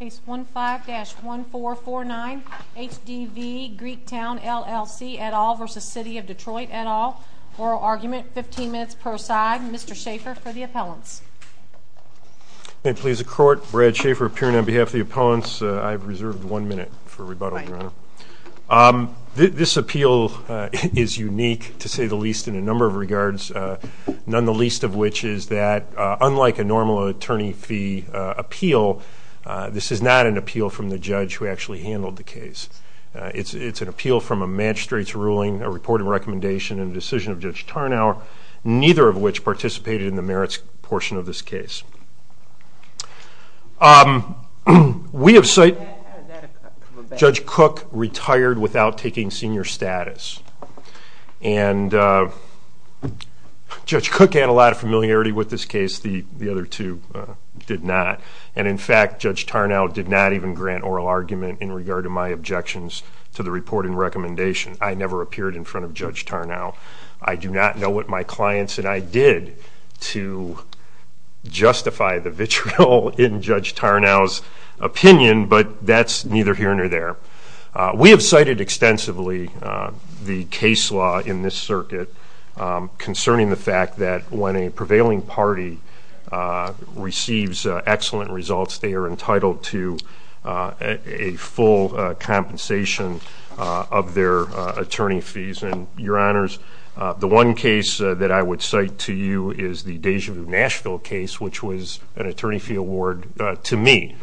Case 15-1449 HDV Greektown LLC et al. v. City of Detroit et al. Oral argument, 15 minutes per side. Mr. Schaefer for the appellants. May it please the court, Brad Schaefer appearing on behalf of the appellants. I have reserved one minute for rebuttal, Your Honor. This appeal is unique, to say the least, in a number of regards, none the least of which is that, unlike a normal attorney fee appeal, this is not an appeal from the judge who actually handled the case. It's an appeal from a magistrate's ruling, a report of recommendation, and a decision of Judge Tarnow, neither of which participated in the merits portion of this case. Judge Cook retired without taking senior status. Judge Cook had a lot of familiarity with this case, the other two did not. In fact, Judge Tarnow did not even grant oral argument in regard to my objections to the report and recommendation. I never appeared in front of Judge Tarnow. I do not know what my clients and I did to justify the vitriol in Judge Tarnow's opinion, but that's neither here nor there. We have cited extensively the case law in this circuit concerning the fact that when a prevailing party receives excellent results, they are entitled to a full compensation of their attorney fees. And, Your Honors, the one case that I would cite to you is the Deja Vu Nashville case, which was an attorney fee award to me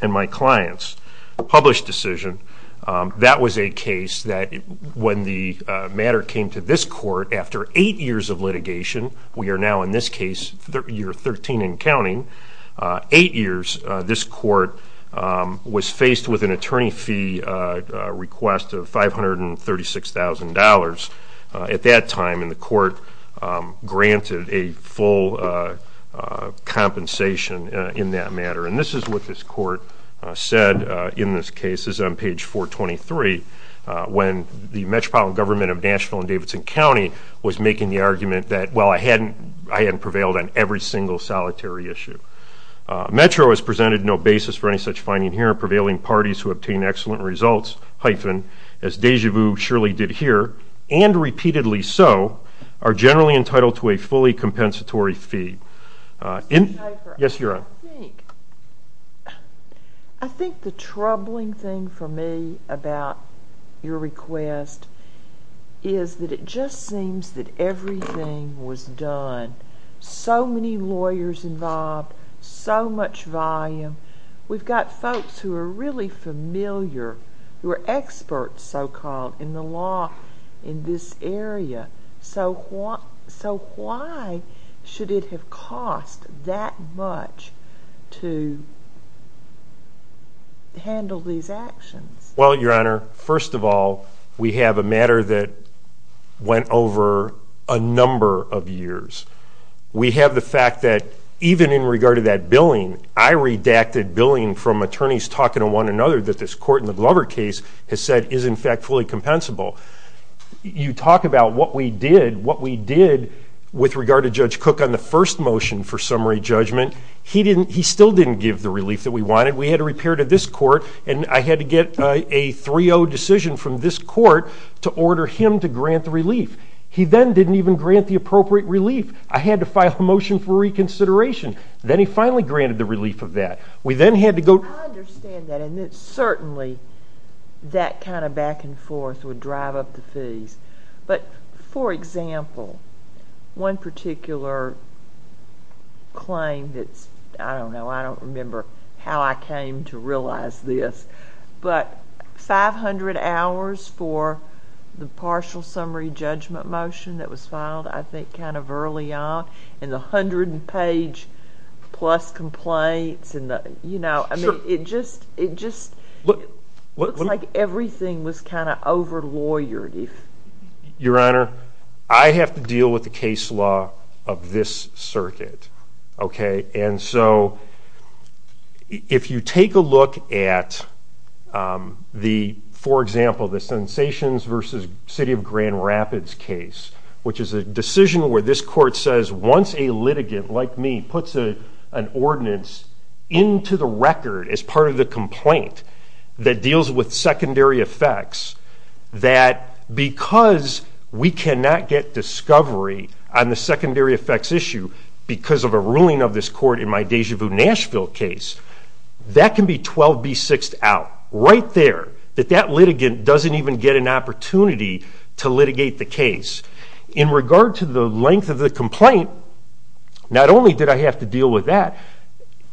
and my clients, a published decision. That was a case that when the matter came to this court after eight years of litigation, we are now in this case year 13 and counting, eight years this court was faced with an attorney fee request of $536,000 at that time, and the court granted a full compensation in that matter. And this is what this court said in this case, this is on page 423, when the Metropolitan Government of Nashville and Davidson County was making the argument that, well, I hadn't prevailed on every single solitary issue. Metro has presented no basis for any such finding here, prevailing parties who obtain excellent results, hyphen, as Deja Vu surely did here, and repeatedly so, are generally entitled to a fully compensatory fee. Mr. Schaffer, I think the troubling thing for me about your request is that it just seems that everything was done. So many lawyers involved, so much volume. We've got folks who are really familiar, who are experts, so-called, in the law in this area. So why should it have cost that much to handle these actions? Well, Your Honor, first of all, we have a matter that went over a number of years. We have the fact that even in regard to that billing, I redacted billing from attorneys talking to one another that this court in the Glover case has said is in fact fully compensable. You talk about what we did with regard to Judge Cook on the first motion for summary judgment. He still didn't give the relief that we wanted. We had to repair it at this court, and I had to get a 3-0 decision from this court to order him to grant the relief. He then didn't even grant the appropriate relief. I had to file a motion for reconsideration. Then he finally granted the relief of that. I understand that, and certainly that kind of back and forth would drive up the fees. But, for example, one particular claim that's, I don't know, I don't remember how I came to realize this, but 500 hours for the partial summary judgment motion that was filed, I think, kind of early on, and the 100-page-plus complaints, you know, I mean, it just looks like everything was kind of over-lawyered. Your Honor, I have to deal with the case law of this circuit, okay? And so if you take a look at the, for example, the Sensations v. City of Grand Rapids case, which is a decision where this court says, once a litigant like me puts an ordinance into the record as part of the complaint that deals with secondary effects, that because we cannot get discovery on the secondary effects issue because of a ruling of this court in my Deja Vu Nashville case, that can be 12B6'd out right there, that that litigant doesn't even get an opportunity to litigate the case. In regard to the length of the complaint, not only did I have to deal with that,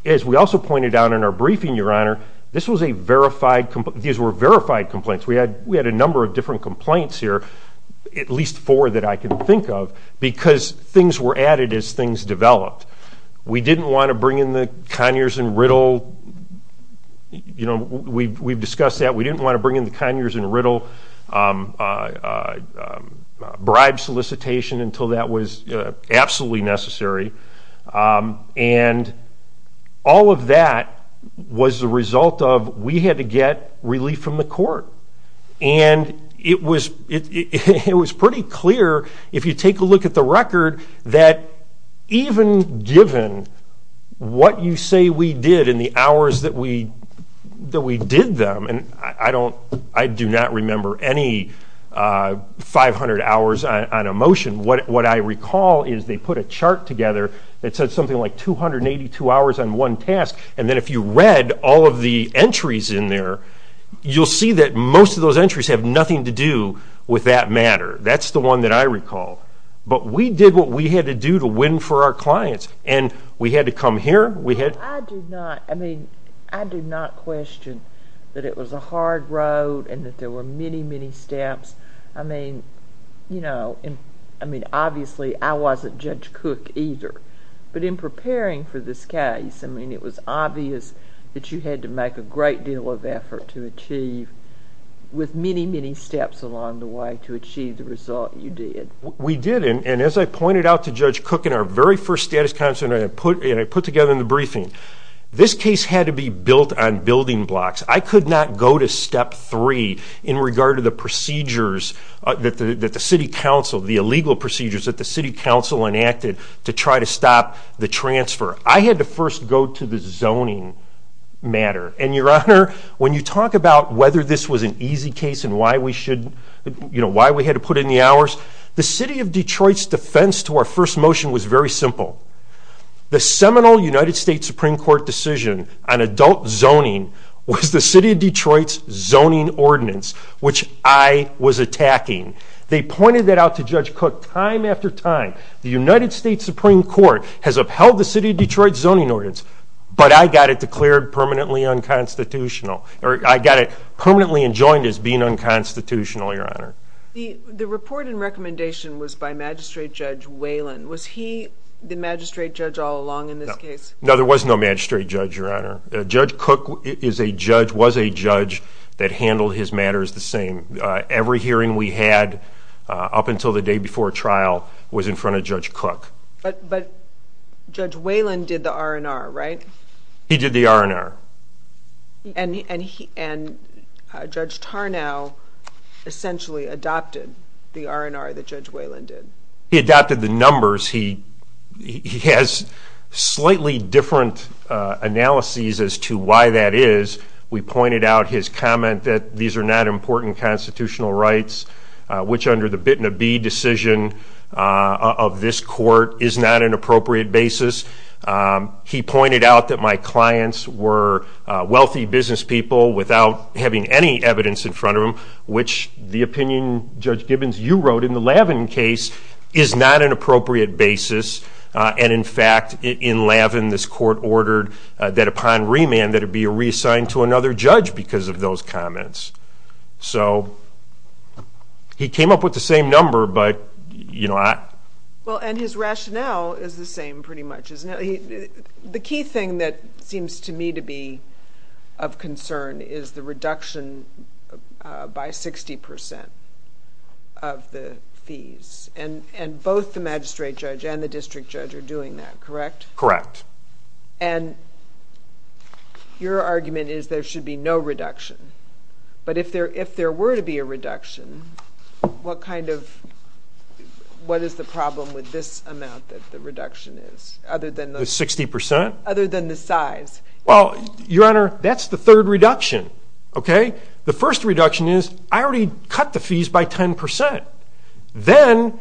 as we also pointed out in our briefing, Your Honor, these were verified complaints. We had a number of different complaints here, at least four that I can think of, because things were added as things developed. We didn't want to bring in the Conyers and Riddle, you know, we've discussed that. We didn't want to bring in the Conyers and Riddle bribe solicitation until that was absolutely necessary. And all of that was the result of we had to get relief from the court. And it was pretty clear, if you take a look at the record, that even given what you say we did and the hours that we did them, and I do not remember any 500 hours on a motion. What I recall is they put a chart together that said something like 282 hours on one task, and then if you read all of the entries in there, you'll see that most of those entries have nothing to do with that matter. That's the one that I recall. But we did what we had to do to win for our clients, and we had to come here. I do not question that it was a hard road and that there were many, many steps. I mean, obviously I wasn't Judge Cook either, but in preparing for this case, I mean, it was obvious that you had to make a great deal of effort to achieve, with many, many steps along the way, to achieve the result you did. We did. And as I pointed out to Judge Cook in our very first status council, and I put together in the briefing, this case had to be built on building blocks. I could not go to step three in regard to the procedures that the city council, the illegal procedures that the city council enacted to try to stop the transfer. I had to first go to the zoning matter. And, Your Honor, when you talk about whether this was an easy case and why we had to put in the hours, the city of Detroit's defense to our first motion was very simple. The seminal United States Supreme Court decision on adult zoning was the city of Detroit's zoning ordinance, which I was attacking. They pointed that out to Judge Cook time after time. The United States Supreme Court has upheld the city of Detroit's zoning ordinance, but I got it declared permanently unconstitutional, or I got it permanently enjoined as being unconstitutional, Your Honor. The report and recommendation was by Magistrate Judge Whalen. Was he the magistrate judge all along in this case? No, there was no magistrate judge, Your Honor. Judge Cook was a judge that handled his matters the same. Every hearing we had up until the day before trial was in front of Judge Cook. But Judge Whalen did the R&R, right? He did the R&R. And Judge Tarnow essentially adopted the R&R that Judge Whalen did. He adopted the numbers. He has slightly different analyses as to why that is. We pointed out his comment that these are not important constitutional rights, which under the bit and a bee decision of this court is not an appropriate basis. He pointed out that my clients were wealthy business people without having any evidence in front of them, which the opinion, Judge Gibbons, you wrote in the Lavin case is not an appropriate basis. And, in fact, in Lavin this court ordered that upon remand that it be reassigned to another judge because of those comments. So he came up with the same number, but, you know, I... Well, and his rationale is the same pretty much, isn't it? The key thing that seems to me to be of concern is the reduction by 60% of the fees. And both the magistrate judge and the district judge are doing that, correct? Correct. And your argument is there should be no reduction. But if there were to be a reduction, what kind of... what is the problem with this amount that the reduction is, other than the... The 60%? Other than the size. Well, Your Honor, that's the third reduction, okay? The first reduction is I already cut the fees by 10%. Then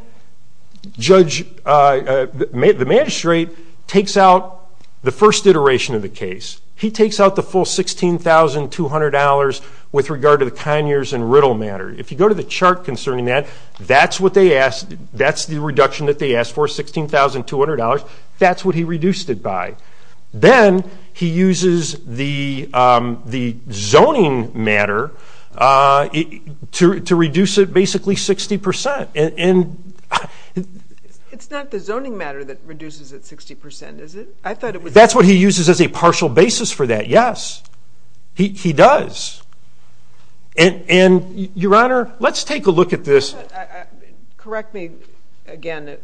the magistrate takes out the first iteration of the case. He takes out the full $16,200 with regard to the conures and riddle matter. If you go to the chart concerning that, that's the reduction that they asked for, $16,200. That's what he reduced it by. Then he uses the zoning matter to reduce it basically 60%. It's not the zoning matter that reduces it 60%, is it? That's what he uses as a partial basis for that, yes. He does. And, Your Honor, let's take a look at this. Correct me, again,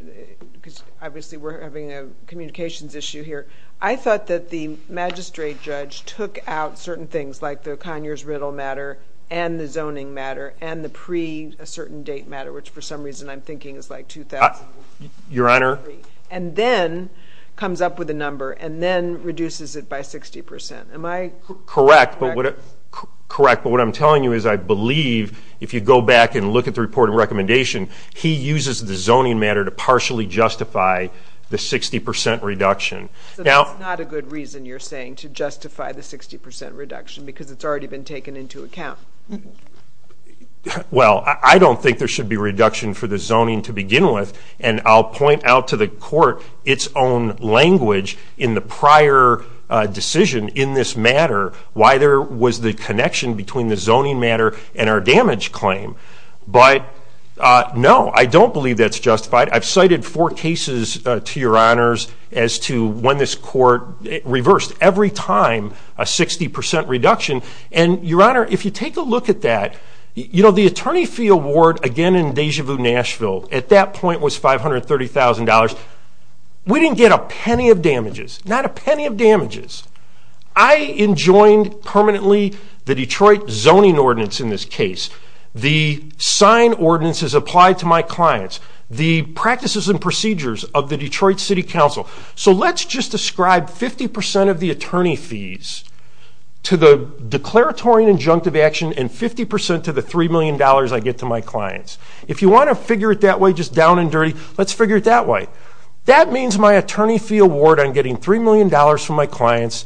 because obviously we're having a communications issue here. I thought that the magistrate judge took out certain things, like the conures riddle matter and the zoning matter and the pre-a certain date matter, which for some reason I'm thinking is like 2000. Your Honor. And then comes up with a number and then reduces it by 60%. Am I correct? Correct. But what I'm telling you is I believe, if you go back and look at the report and recommendation, he uses the zoning matter to partially justify the 60% reduction. So that's not a good reason, you're saying, to justify the 60% reduction because it's already been taken into account. Well, I don't think there should be reduction for the zoning to begin with, and I'll point out to the court its own language in the prior decision in this matter why there was the connection between the zoning matter and our damage claim. But, no, I don't believe that's justified. I've cited four cases to Your Honors as to when this court reversed every time a 60% reduction. And, Your Honor, if you take a look at that, the attorney fee award again in Deja Vu, Nashville, at that point was $530,000. We didn't get a penny of damages, not a penny of damages. I enjoined permanently the Detroit zoning ordinance in this case, the sign ordinances applied to my clients, the practices and procedures of the Detroit City Council. So let's just describe 50% of the attorney fees to the declaratory and injunctive action and 50% to the $3 million I get to my clients. If you want to figure it that way, just down and dirty, let's figure it that way. That means my attorney fee award on getting $3 million from my clients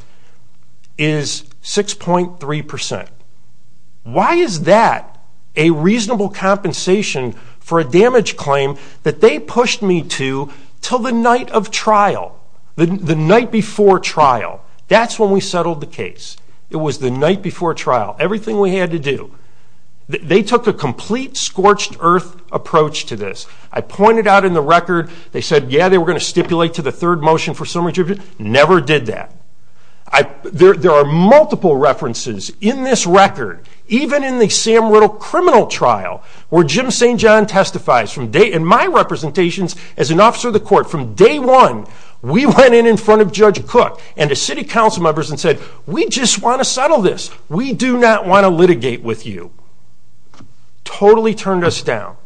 is 6.3%. Why is that a reasonable compensation for a damage claim that they pushed me to until the night of trial, the night before trial? That's when we settled the case. It was the night before trial, everything we had to do. They took a complete scorched earth approach to this. I pointed out in the record, they said, yeah, they were going to stipulate to the third motion for summary tribute. Never did that. There are multiple references in this record, even in the Sam Riddle criminal trial, where Jim St. John testifies. In my representations as an officer of the court, from day one, we went in in front of Judge Cook and the city council members and said, we just want to settle this. We do not want to litigate with you. Totally turned us down.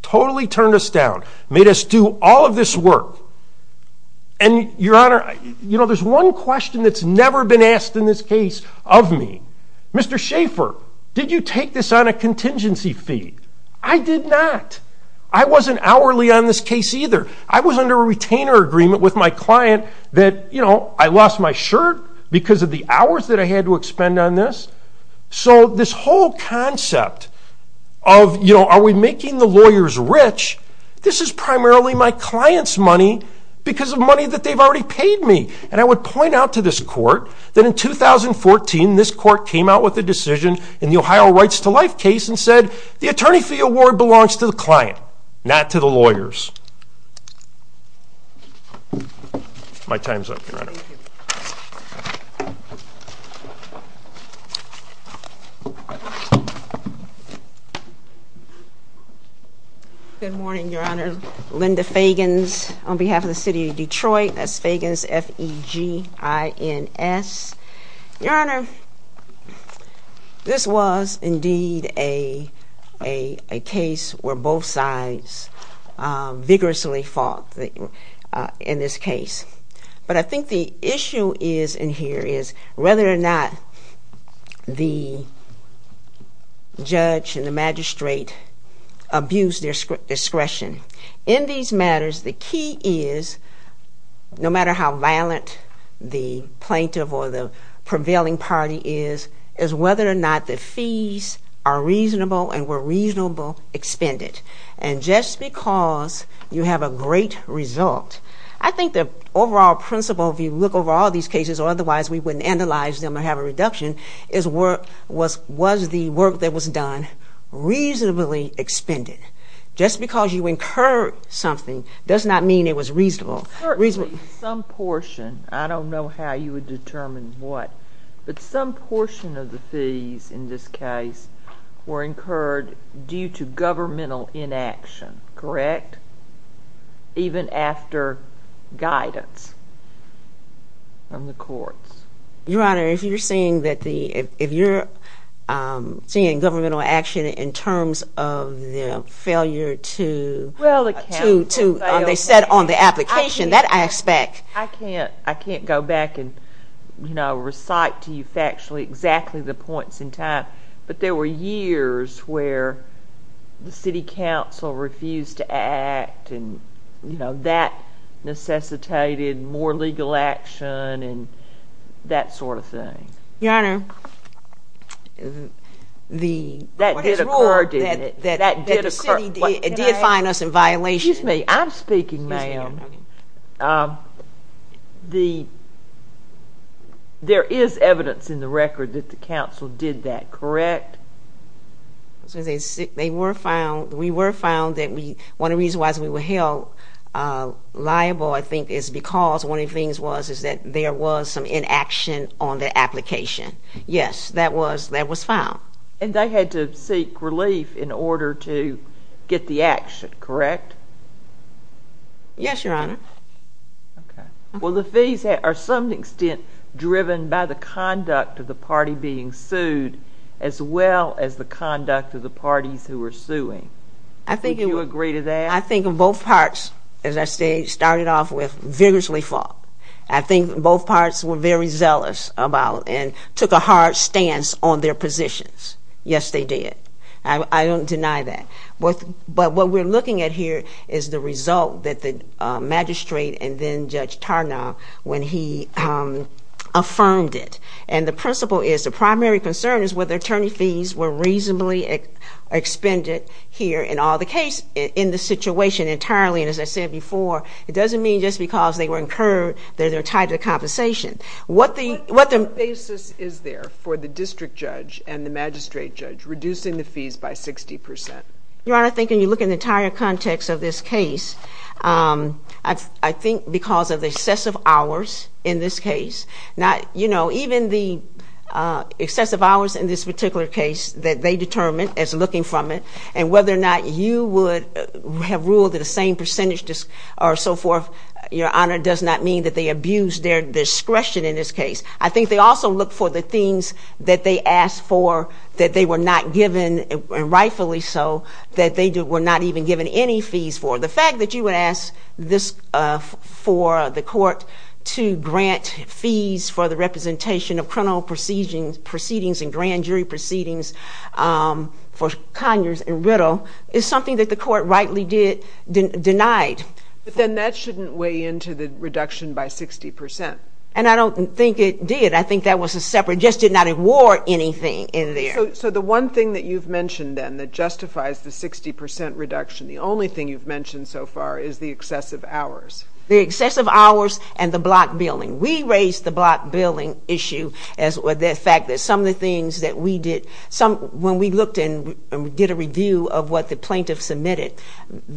Totally turned us down. Made us do all of this work. Your Honor, there's one question that's never been asked in this case of me. Mr. Schaffer, did you take this on a contingency fee? I did not. I wasn't hourly on this case either. I was under a retainer agreement with my client that I lost my shirt because of the hours that I had to expend on this. This whole concept of are we making the lawyers rich, this is primarily my client's money because of money that they've already paid me. I would point out to this court that in 2014, this court came out with a decision in the Ohio Rights to Life case and said, the attorney fee award belongs to the client, not to the lawyers. My time's up, Your Honor. Good morning, Your Honor. Linda Fagans on behalf of the city of Detroit. That's Fagans, F-E-G-I-N-S. Your Honor, this was indeed a case where both sides vigorously fought in this case. But I think the issue in here is whether or not the judge and the magistrate abused their discretion. In these matters, the key is, no matter how violent the plaintiff or the prevailing party is, is whether or not the fees are reasonable and were reasonable expended. And just because you have a great result, I think the overall principle, if you look over all these cases or otherwise, we wouldn't analyze them or have a reduction, is was the work that was done reasonably expended? Just because you incurred something does not mean it was reasonable. Certainly, some portion. I don't know how you would determine what. But some portion of the fees in this case were incurred due to governmental inaction, correct? Even after guidance from the courts. Your Honor, if you're seeing governmental action in terms of the failure to, they said, on the application, that aspect. I can't go back and recite to you factually exactly the points in time. But there were years where the city council refused to act, and that necessitated more legal action and that sort of thing. Your Honor, the city did find us in violation. Excuse me, I'm speaking, ma'am. There is evidence in the record that the council did that, correct? They were found, we were found, one of the reasons why we were held liable, I think, is because one of the things was that there was some inaction on the application. Yes, that was found. And they had to seek relief in order to get the action, correct? Yes, Your Honor. Okay. Well, the fees are to some extent driven by the conduct of the party being sued as well as the conduct of the parties who were suing. Would you agree to that? I think both parts, as I say, started off with vigorously fought. I think both parts were very zealous about and took a hard stance on their positions. Yes, they did. I don't deny that. But what we're looking at here is the result that the magistrate and then Judge Tarnow, when he affirmed it, and the principle is the primary concern is whether attorney fees were reasonably expended here. In all the cases in this situation entirely, and as I said before, it doesn't mean just because they were incurred that they're tied to compensation. What basis is there for the district judge and the magistrate judge reducing the fees by 60 percent? Your Honor, I think when you look at the entire context of this case, I think because of the excessive hours in this case. Now, you know, even the excessive hours in this particular case that they determined as looking from it and whether or not you would have ruled that the same percentage or so forth, Your Honor, does not mean that they abused their discretion in this case. I think they also looked for the things that they asked for that they were not given, and rightfully so, that they were not even given any fees for. The fact that you would ask this for the court to grant fees for the representation of criminal proceedings and grand jury proceedings for Conyers and Riddle is something that the court rightly did, denied. But then that shouldn't weigh into the reduction by 60 percent. And I don't think it did. I think that was a separate, just did not award anything in there. So the one thing that you've mentioned, then, that justifies the 60 percent reduction, the only thing you've mentioned so far is the excessive hours. The excessive hours and the block billing. We raised the block billing issue with the fact that some of the things that we did, when we looked and did a review of what the plaintiff submitted,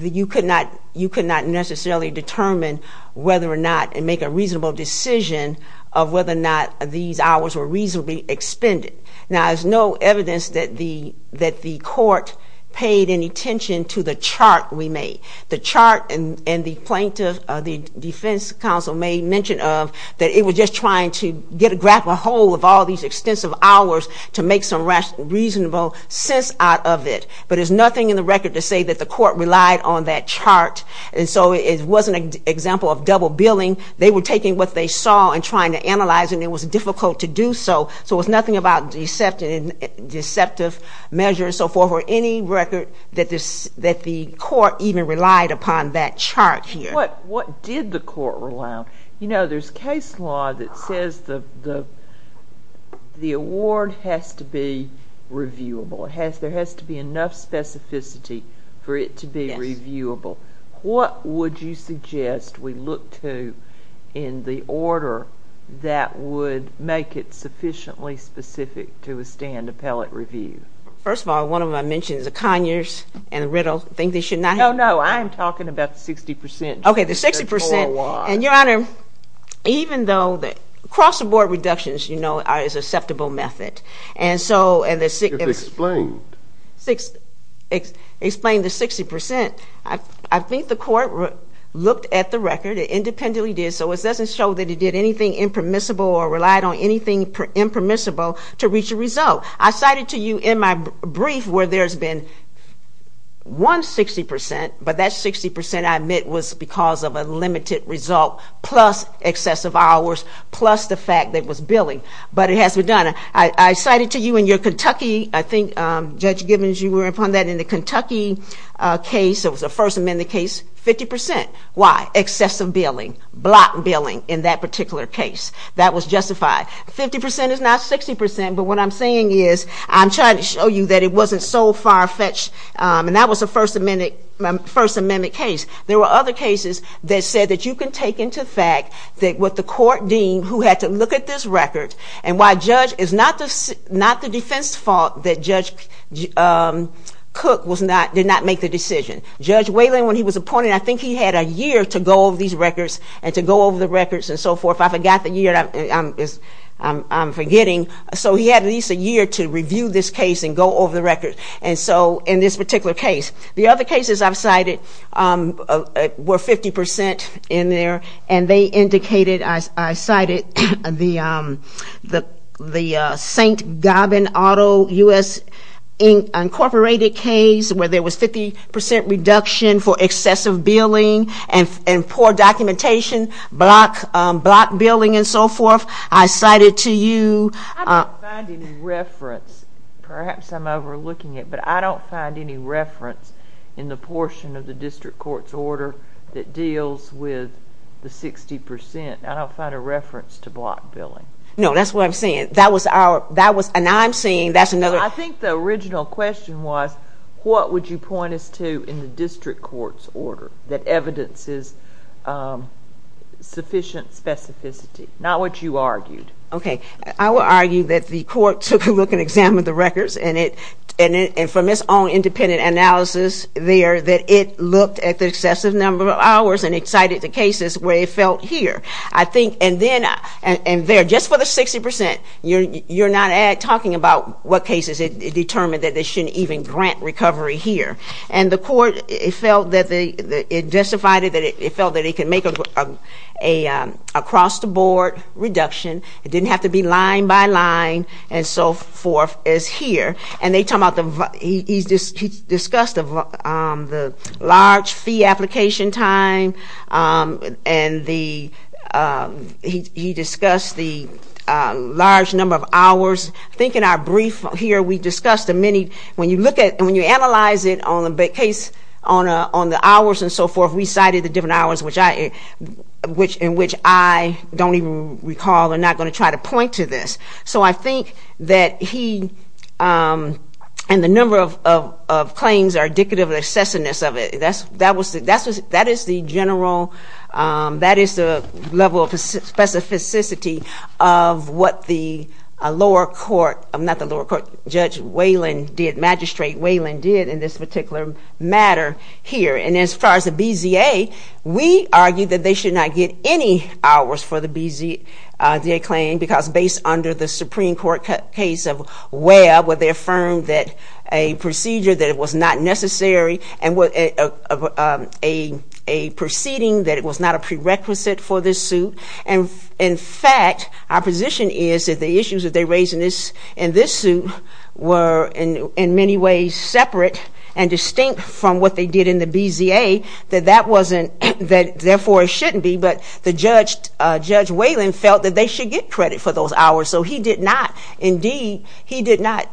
you could not necessarily determine whether or not and make a reasonable decision of whether or not these hours were reasonably expended. Now, there's no evidence that the court paid any attention to the chart we made. The chart and the plaintiff, the defense counsel may mention of, that it was just trying to grab a hold of all these extensive hours to make some reasonable sense out of it. But there's nothing in the record to say that the court relied on that chart. And so it wasn't an example of double billing. They were taking what they saw and trying to analyze, and it was difficult to do so. So it was nothing about deceptive measures and so forth, or any record that the court even relied upon that chart here. What did the court rely on? You know, there's case law that says the award has to be reviewable. There has to be enough specificity for it to be reviewable. What would you suggest we look to in the order that would make it sufficiently specific to a stand appellate review? First of all, one of them I mentioned is the Conyers and the Riddle. You think they should not have? No, no. I am talking about the 60 percent. Okay, the 60 percent. And, Your Honor, even though the cross-aboard reductions, you know, are an acceptable method. And so, and the 60 percent. Explain. Explain the 60 percent. I think the court looked at the record. It independently did, so it doesn't show that it did anything impermissible or relied on anything impermissible to reach a result. I cited to you in my brief where there's been one 60 percent, but that 60 percent, I admit, was because of a limited result plus excessive hours plus the fact that it was billing. But it has to be done. I cited to you in your Kentucky, I think, Judge Gibbons, you were upon that in the Kentucky case, it was a First Amendment case, 50 percent. Why? Excessive billing. Block billing in that particular case. That was justified. Fifty percent is not 60 percent, but what I'm saying is I'm trying to show you that it wasn't so far-fetched, and that was a First Amendment case. There were other cases that said that you can take into fact that what the court deemed, who had to look at this record, and why Judge, it's not the defense's fault that Judge Cook did not make the decision. Judge Whalen, when he was appointed, I think he had a year to go over these records and to go over the records and so forth. I forgot the year. I'm forgetting. So he had at least a year to review this case and go over the records, and so in this particular case. The other cases I've cited were 50 percent in there, and they indicated, I cited the St. Gobbin Auto, U.S. Incorporated case where there was 50 percent reduction for excessive billing and poor documentation, block billing and so forth. I cited to you. I don't find any reference. Perhaps I'm overlooking it, but I don't find any reference in the portion of the district court's order that deals with the 60 percent. I don't find a reference to block billing. No, that's what I'm saying. That was our, and now I'm saying that's another. I think the original question was, what would you point us to in the district court's order that evidences sufficient specificity? Not what you argued. Okay. I will argue that the court took a look and examined the records, and from its own independent analysis there, that it looked at the excessive number of hours and it cited the cases where it felt here. I think, and then, and there, just for the 60 percent, you're not talking about what cases it determined that they shouldn't even grant recovery here. And the court, it felt that they, it justified it that it felt that it could make an across-the-board reduction. It didn't have to be line by line and so forth as here. And they talk about the, he discussed the large fee application time and the, he discussed the large number of hours. I think in our brief here, we discussed the many, when you look at, when you analyze it on the case on the hours and so forth, we cited the different hours in which I don't even recall and not going to try to point to this. So I think that he, and the number of claims are indicative of the excessiveness of it. That is the general, that is the level of specificity of what the lower court, not the lower court, Judge Whalen did, Magistrate Whalen did in this particular matter here. And as far as the BZA, we argued that they should not get any hours for the BZA claim because based under the Supreme Court case of Webb, where they affirmed that a procedure that was not necessary and a proceeding that it was not a prerequisite for this suit. And in fact, our position is that the issues that they raised in this suit were in many ways separate and distinct from what they did in the BZA. That that wasn't, that therefore it shouldn't be, but the Judge Whalen felt that they should get credit for those hours. So he did not, indeed, he did not,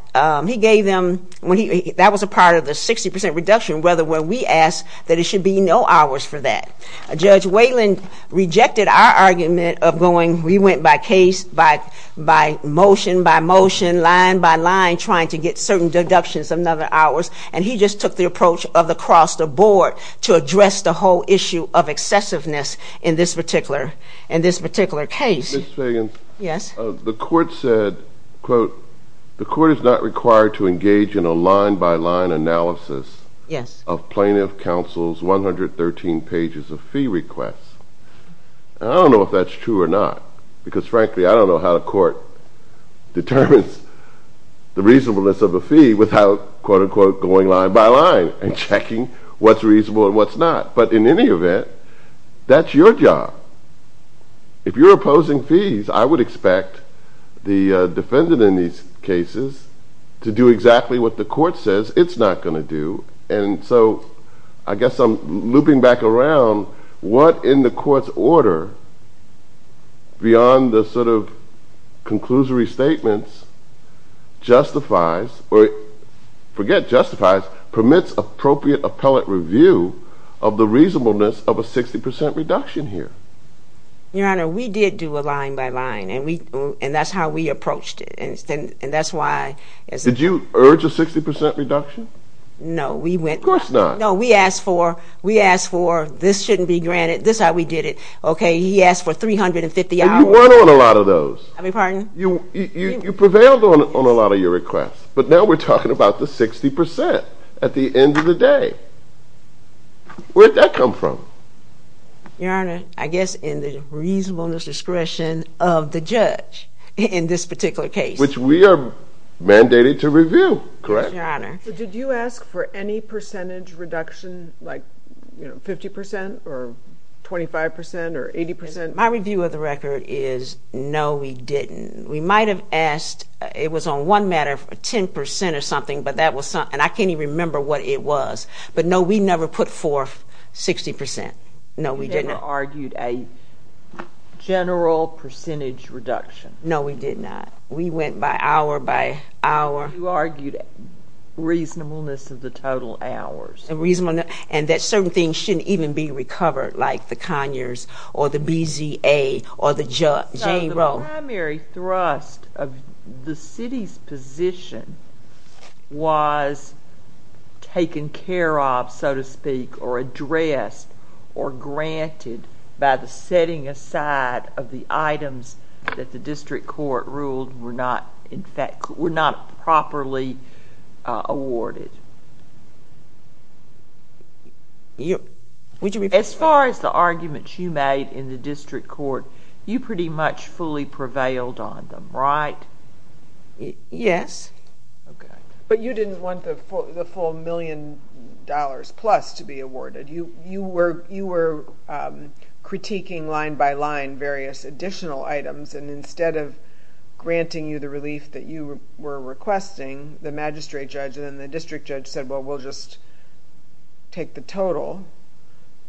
he gave them, that was a part of the 60% reduction, whether we asked that it should be no hours for that. Judge Whalen rejected our argument of going, we went by case, by motion, by motion, line by line, trying to get certain deductions of another hours, and he just took the approach of the cross the board to address the whole issue of excessiveness in this particular case. Ms. Fagans, the court said, quote, the court is not required to engage in a line by line analysis of plaintiff counsel's 113 pages of fee requests. I don't know if that's true or not, because frankly, I don't know how the court determines the reasonableness of a fee without, quote unquote, going line by line and checking what's reasonable and what's not. But in any event, that's your job. If you're opposing fees, I would expect the defendant in these cases to do exactly what the court says it's not going to do, and so I guess I'm looping back around, what in the court's order, beyond the sort of conclusory statements, justifies, or forget justifies, permits appropriate appellate review of the reasonableness of a 60% reduction here. Your Honor, we did do a line by line, and that's how we approached it, and that's why. Did you urge a 60% reduction? No, we went. Of course not. No, we asked for, we asked for, this shouldn't be granted, this is how we did it. Okay, he asked for 350 hours. And you went on a lot of those. I beg your pardon? You prevailed on a lot of your requests, but now we're talking about the 60% at the end of the day. Where'd that come from? Your Honor, I guess in the reasonableness discretion of the judge in this particular case. Which we are mandated to review, correct? Yes, Your Honor. Did you ask for any percentage reduction, like 50% or 25% or 80%? My review of the record is no, we didn't. We might have asked, it was on one matter, 10% or something, and I can't even remember what it was. But no, we never put forth 60%. No, we didn't. You never argued a general percentage reduction? No, we did not. We went by hour by hour. You argued reasonableness of the total hours. And that certain things shouldn't even be recovered, like the Conyers or the BZA or the Jane Roe. The primary thrust of the city's position was taken care of, so to speak, or addressed or granted by the setting aside of the items that the district court ruled were not properly awarded. As far as the arguments you made in the district court, you pretty much fully prevailed on them, right? Yes. But you didn't want the full million dollars plus to be awarded. You were critiquing line by line various additional items, and instead of granting you the relief that you were requesting, the magistrate judge and the district judge said, well, we'll just take the total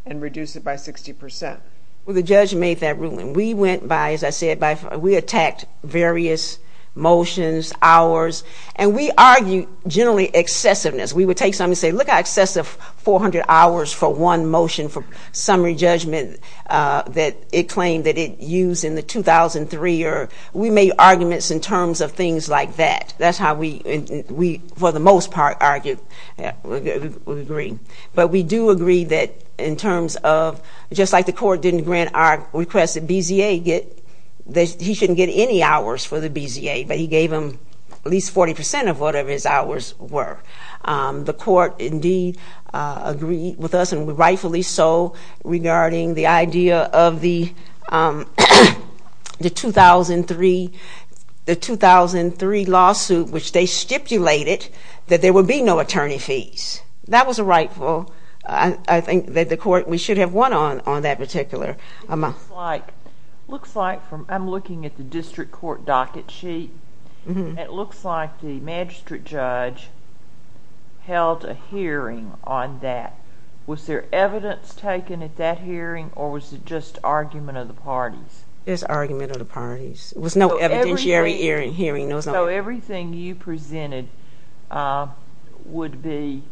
and reduce it by 60%. Well, the judge made that ruling. We went by, as I said, we attacked various motions, hours, and we argued generally excessiveness. We would take something and say, look how excessive 400 hours for one motion for summary judgment that it claimed that it used in the 2003. We made arguments in terms of things like that. That's how we, for the most part, argued. We agree. But we do agree that in terms of just like the court didn't grant our request that BZA get, that he shouldn't get any hours for the BZA, but he gave them at least 40% of whatever his hours were. The court, indeed, agreed with us and rightfully so regarding the idea of the 2003 lawsuit, which they stipulated that there would be no attorney fees. That was rightful. I think that the court, we should have won on that particular amount. It looks like from, I'm looking at the district court docket sheet. It looks like the magistrate judge held a hearing on that. Was there evidence taken at that hearing or was it just argument of the parties? It was argument of the parties. It was no evidentiary hearing. Everything you presented would be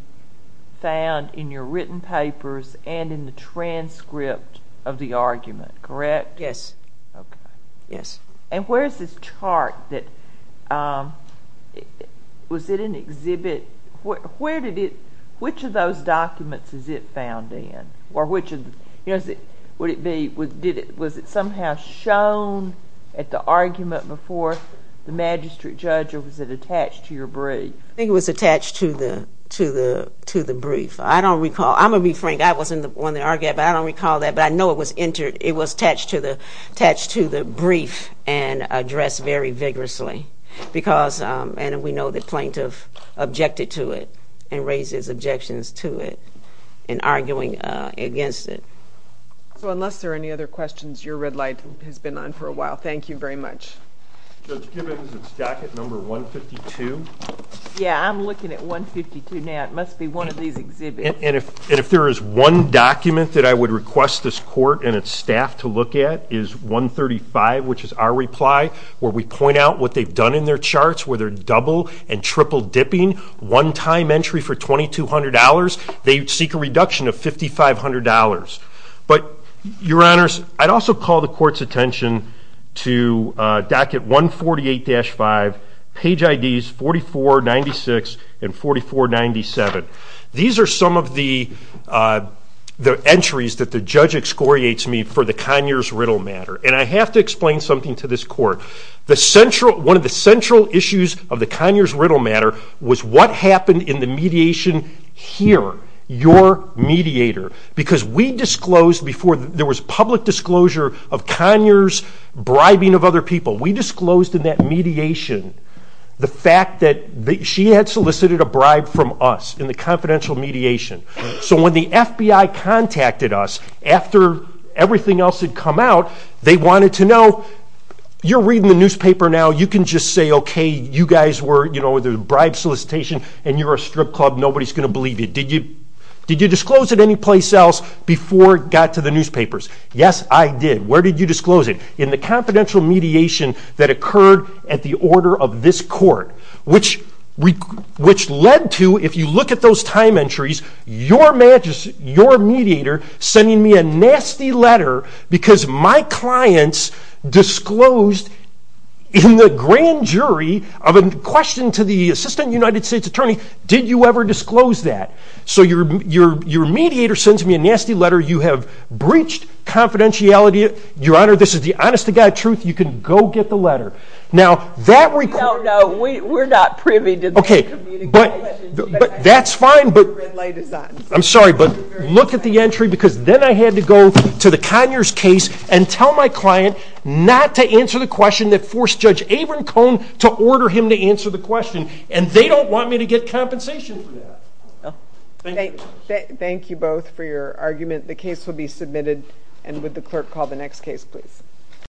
found in your written papers and in the transcript of the argument, correct? Yes. Okay. Yes. Where is this chart that, was it an exhibit? Which of those documents is it found in? Or which of, would it be, was it somehow shown at the argument before the magistrate judge or was it attached to your brief? I think it was attached to the brief. I don't recall. I'm going to be frank. I wasn't the one that argued, but I don't recall that, but I know it was attached to the brief and addressed very vigorously because, and we know the plaintiff objected to it and raised his objections to it in arguing against it. So unless there are any other questions, your red light has been on for a while. Thank you very much. Judge Gibbons, is it docket number 152? Yeah, I'm looking at 152 now. It must be one of these exhibits. And if there is one document that I would request this court and its staff to look at is 135, which is our reply where we point out what they've done in their charts, where they're double and triple dipping, one-time entry for $2,200. They seek a reduction of $5,500. But, your honors, I'd also call the court's attention to docket 148-5, page IDs 4496 and 4497. These are some of the entries that the judge excoriates me for the Conyers Riddle matter. And I have to explain something to this court. One of the central issues of the Conyers Riddle matter was what happened in the mediation here, your mediator. Because we disclosed before there was public disclosure of Conyers bribing of other people, we disclosed in that mediation the fact that she had solicited a bribe from us in the confidential mediation. So when the FBI contacted us after everything else had come out, they wanted to know, you're reading the newspaper now, you can just say, okay, you guys were, you know, there's a bribe solicitation and you're a strip club, nobody's going to believe you. Did you disclose it anyplace else before it got to the newspapers? Yes, I did. Where did you disclose it? In the confidential mediation that occurred at the order of this court, which led to, if you look at those time entries, your mediator sending me a nasty letter because my clients disclosed in the grand jury of a question to the assistant United States attorney, did you ever disclose that? So your mediator sends me a nasty letter, you have breached confidentiality, your honor, this is the honest to God truth, you can go get the letter. We don't know, we're not privy to this communication. Okay, but that's fine, I'm sorry, but look at the entry because then I had to go to the Conyers case and tell my client not to answer the question that forced Judge Averin Cohn to order him to answer the question, and they don't want me to get compensation for that. Thank you both for your argument. The case will be submitted, and would the clerk call the next case, please.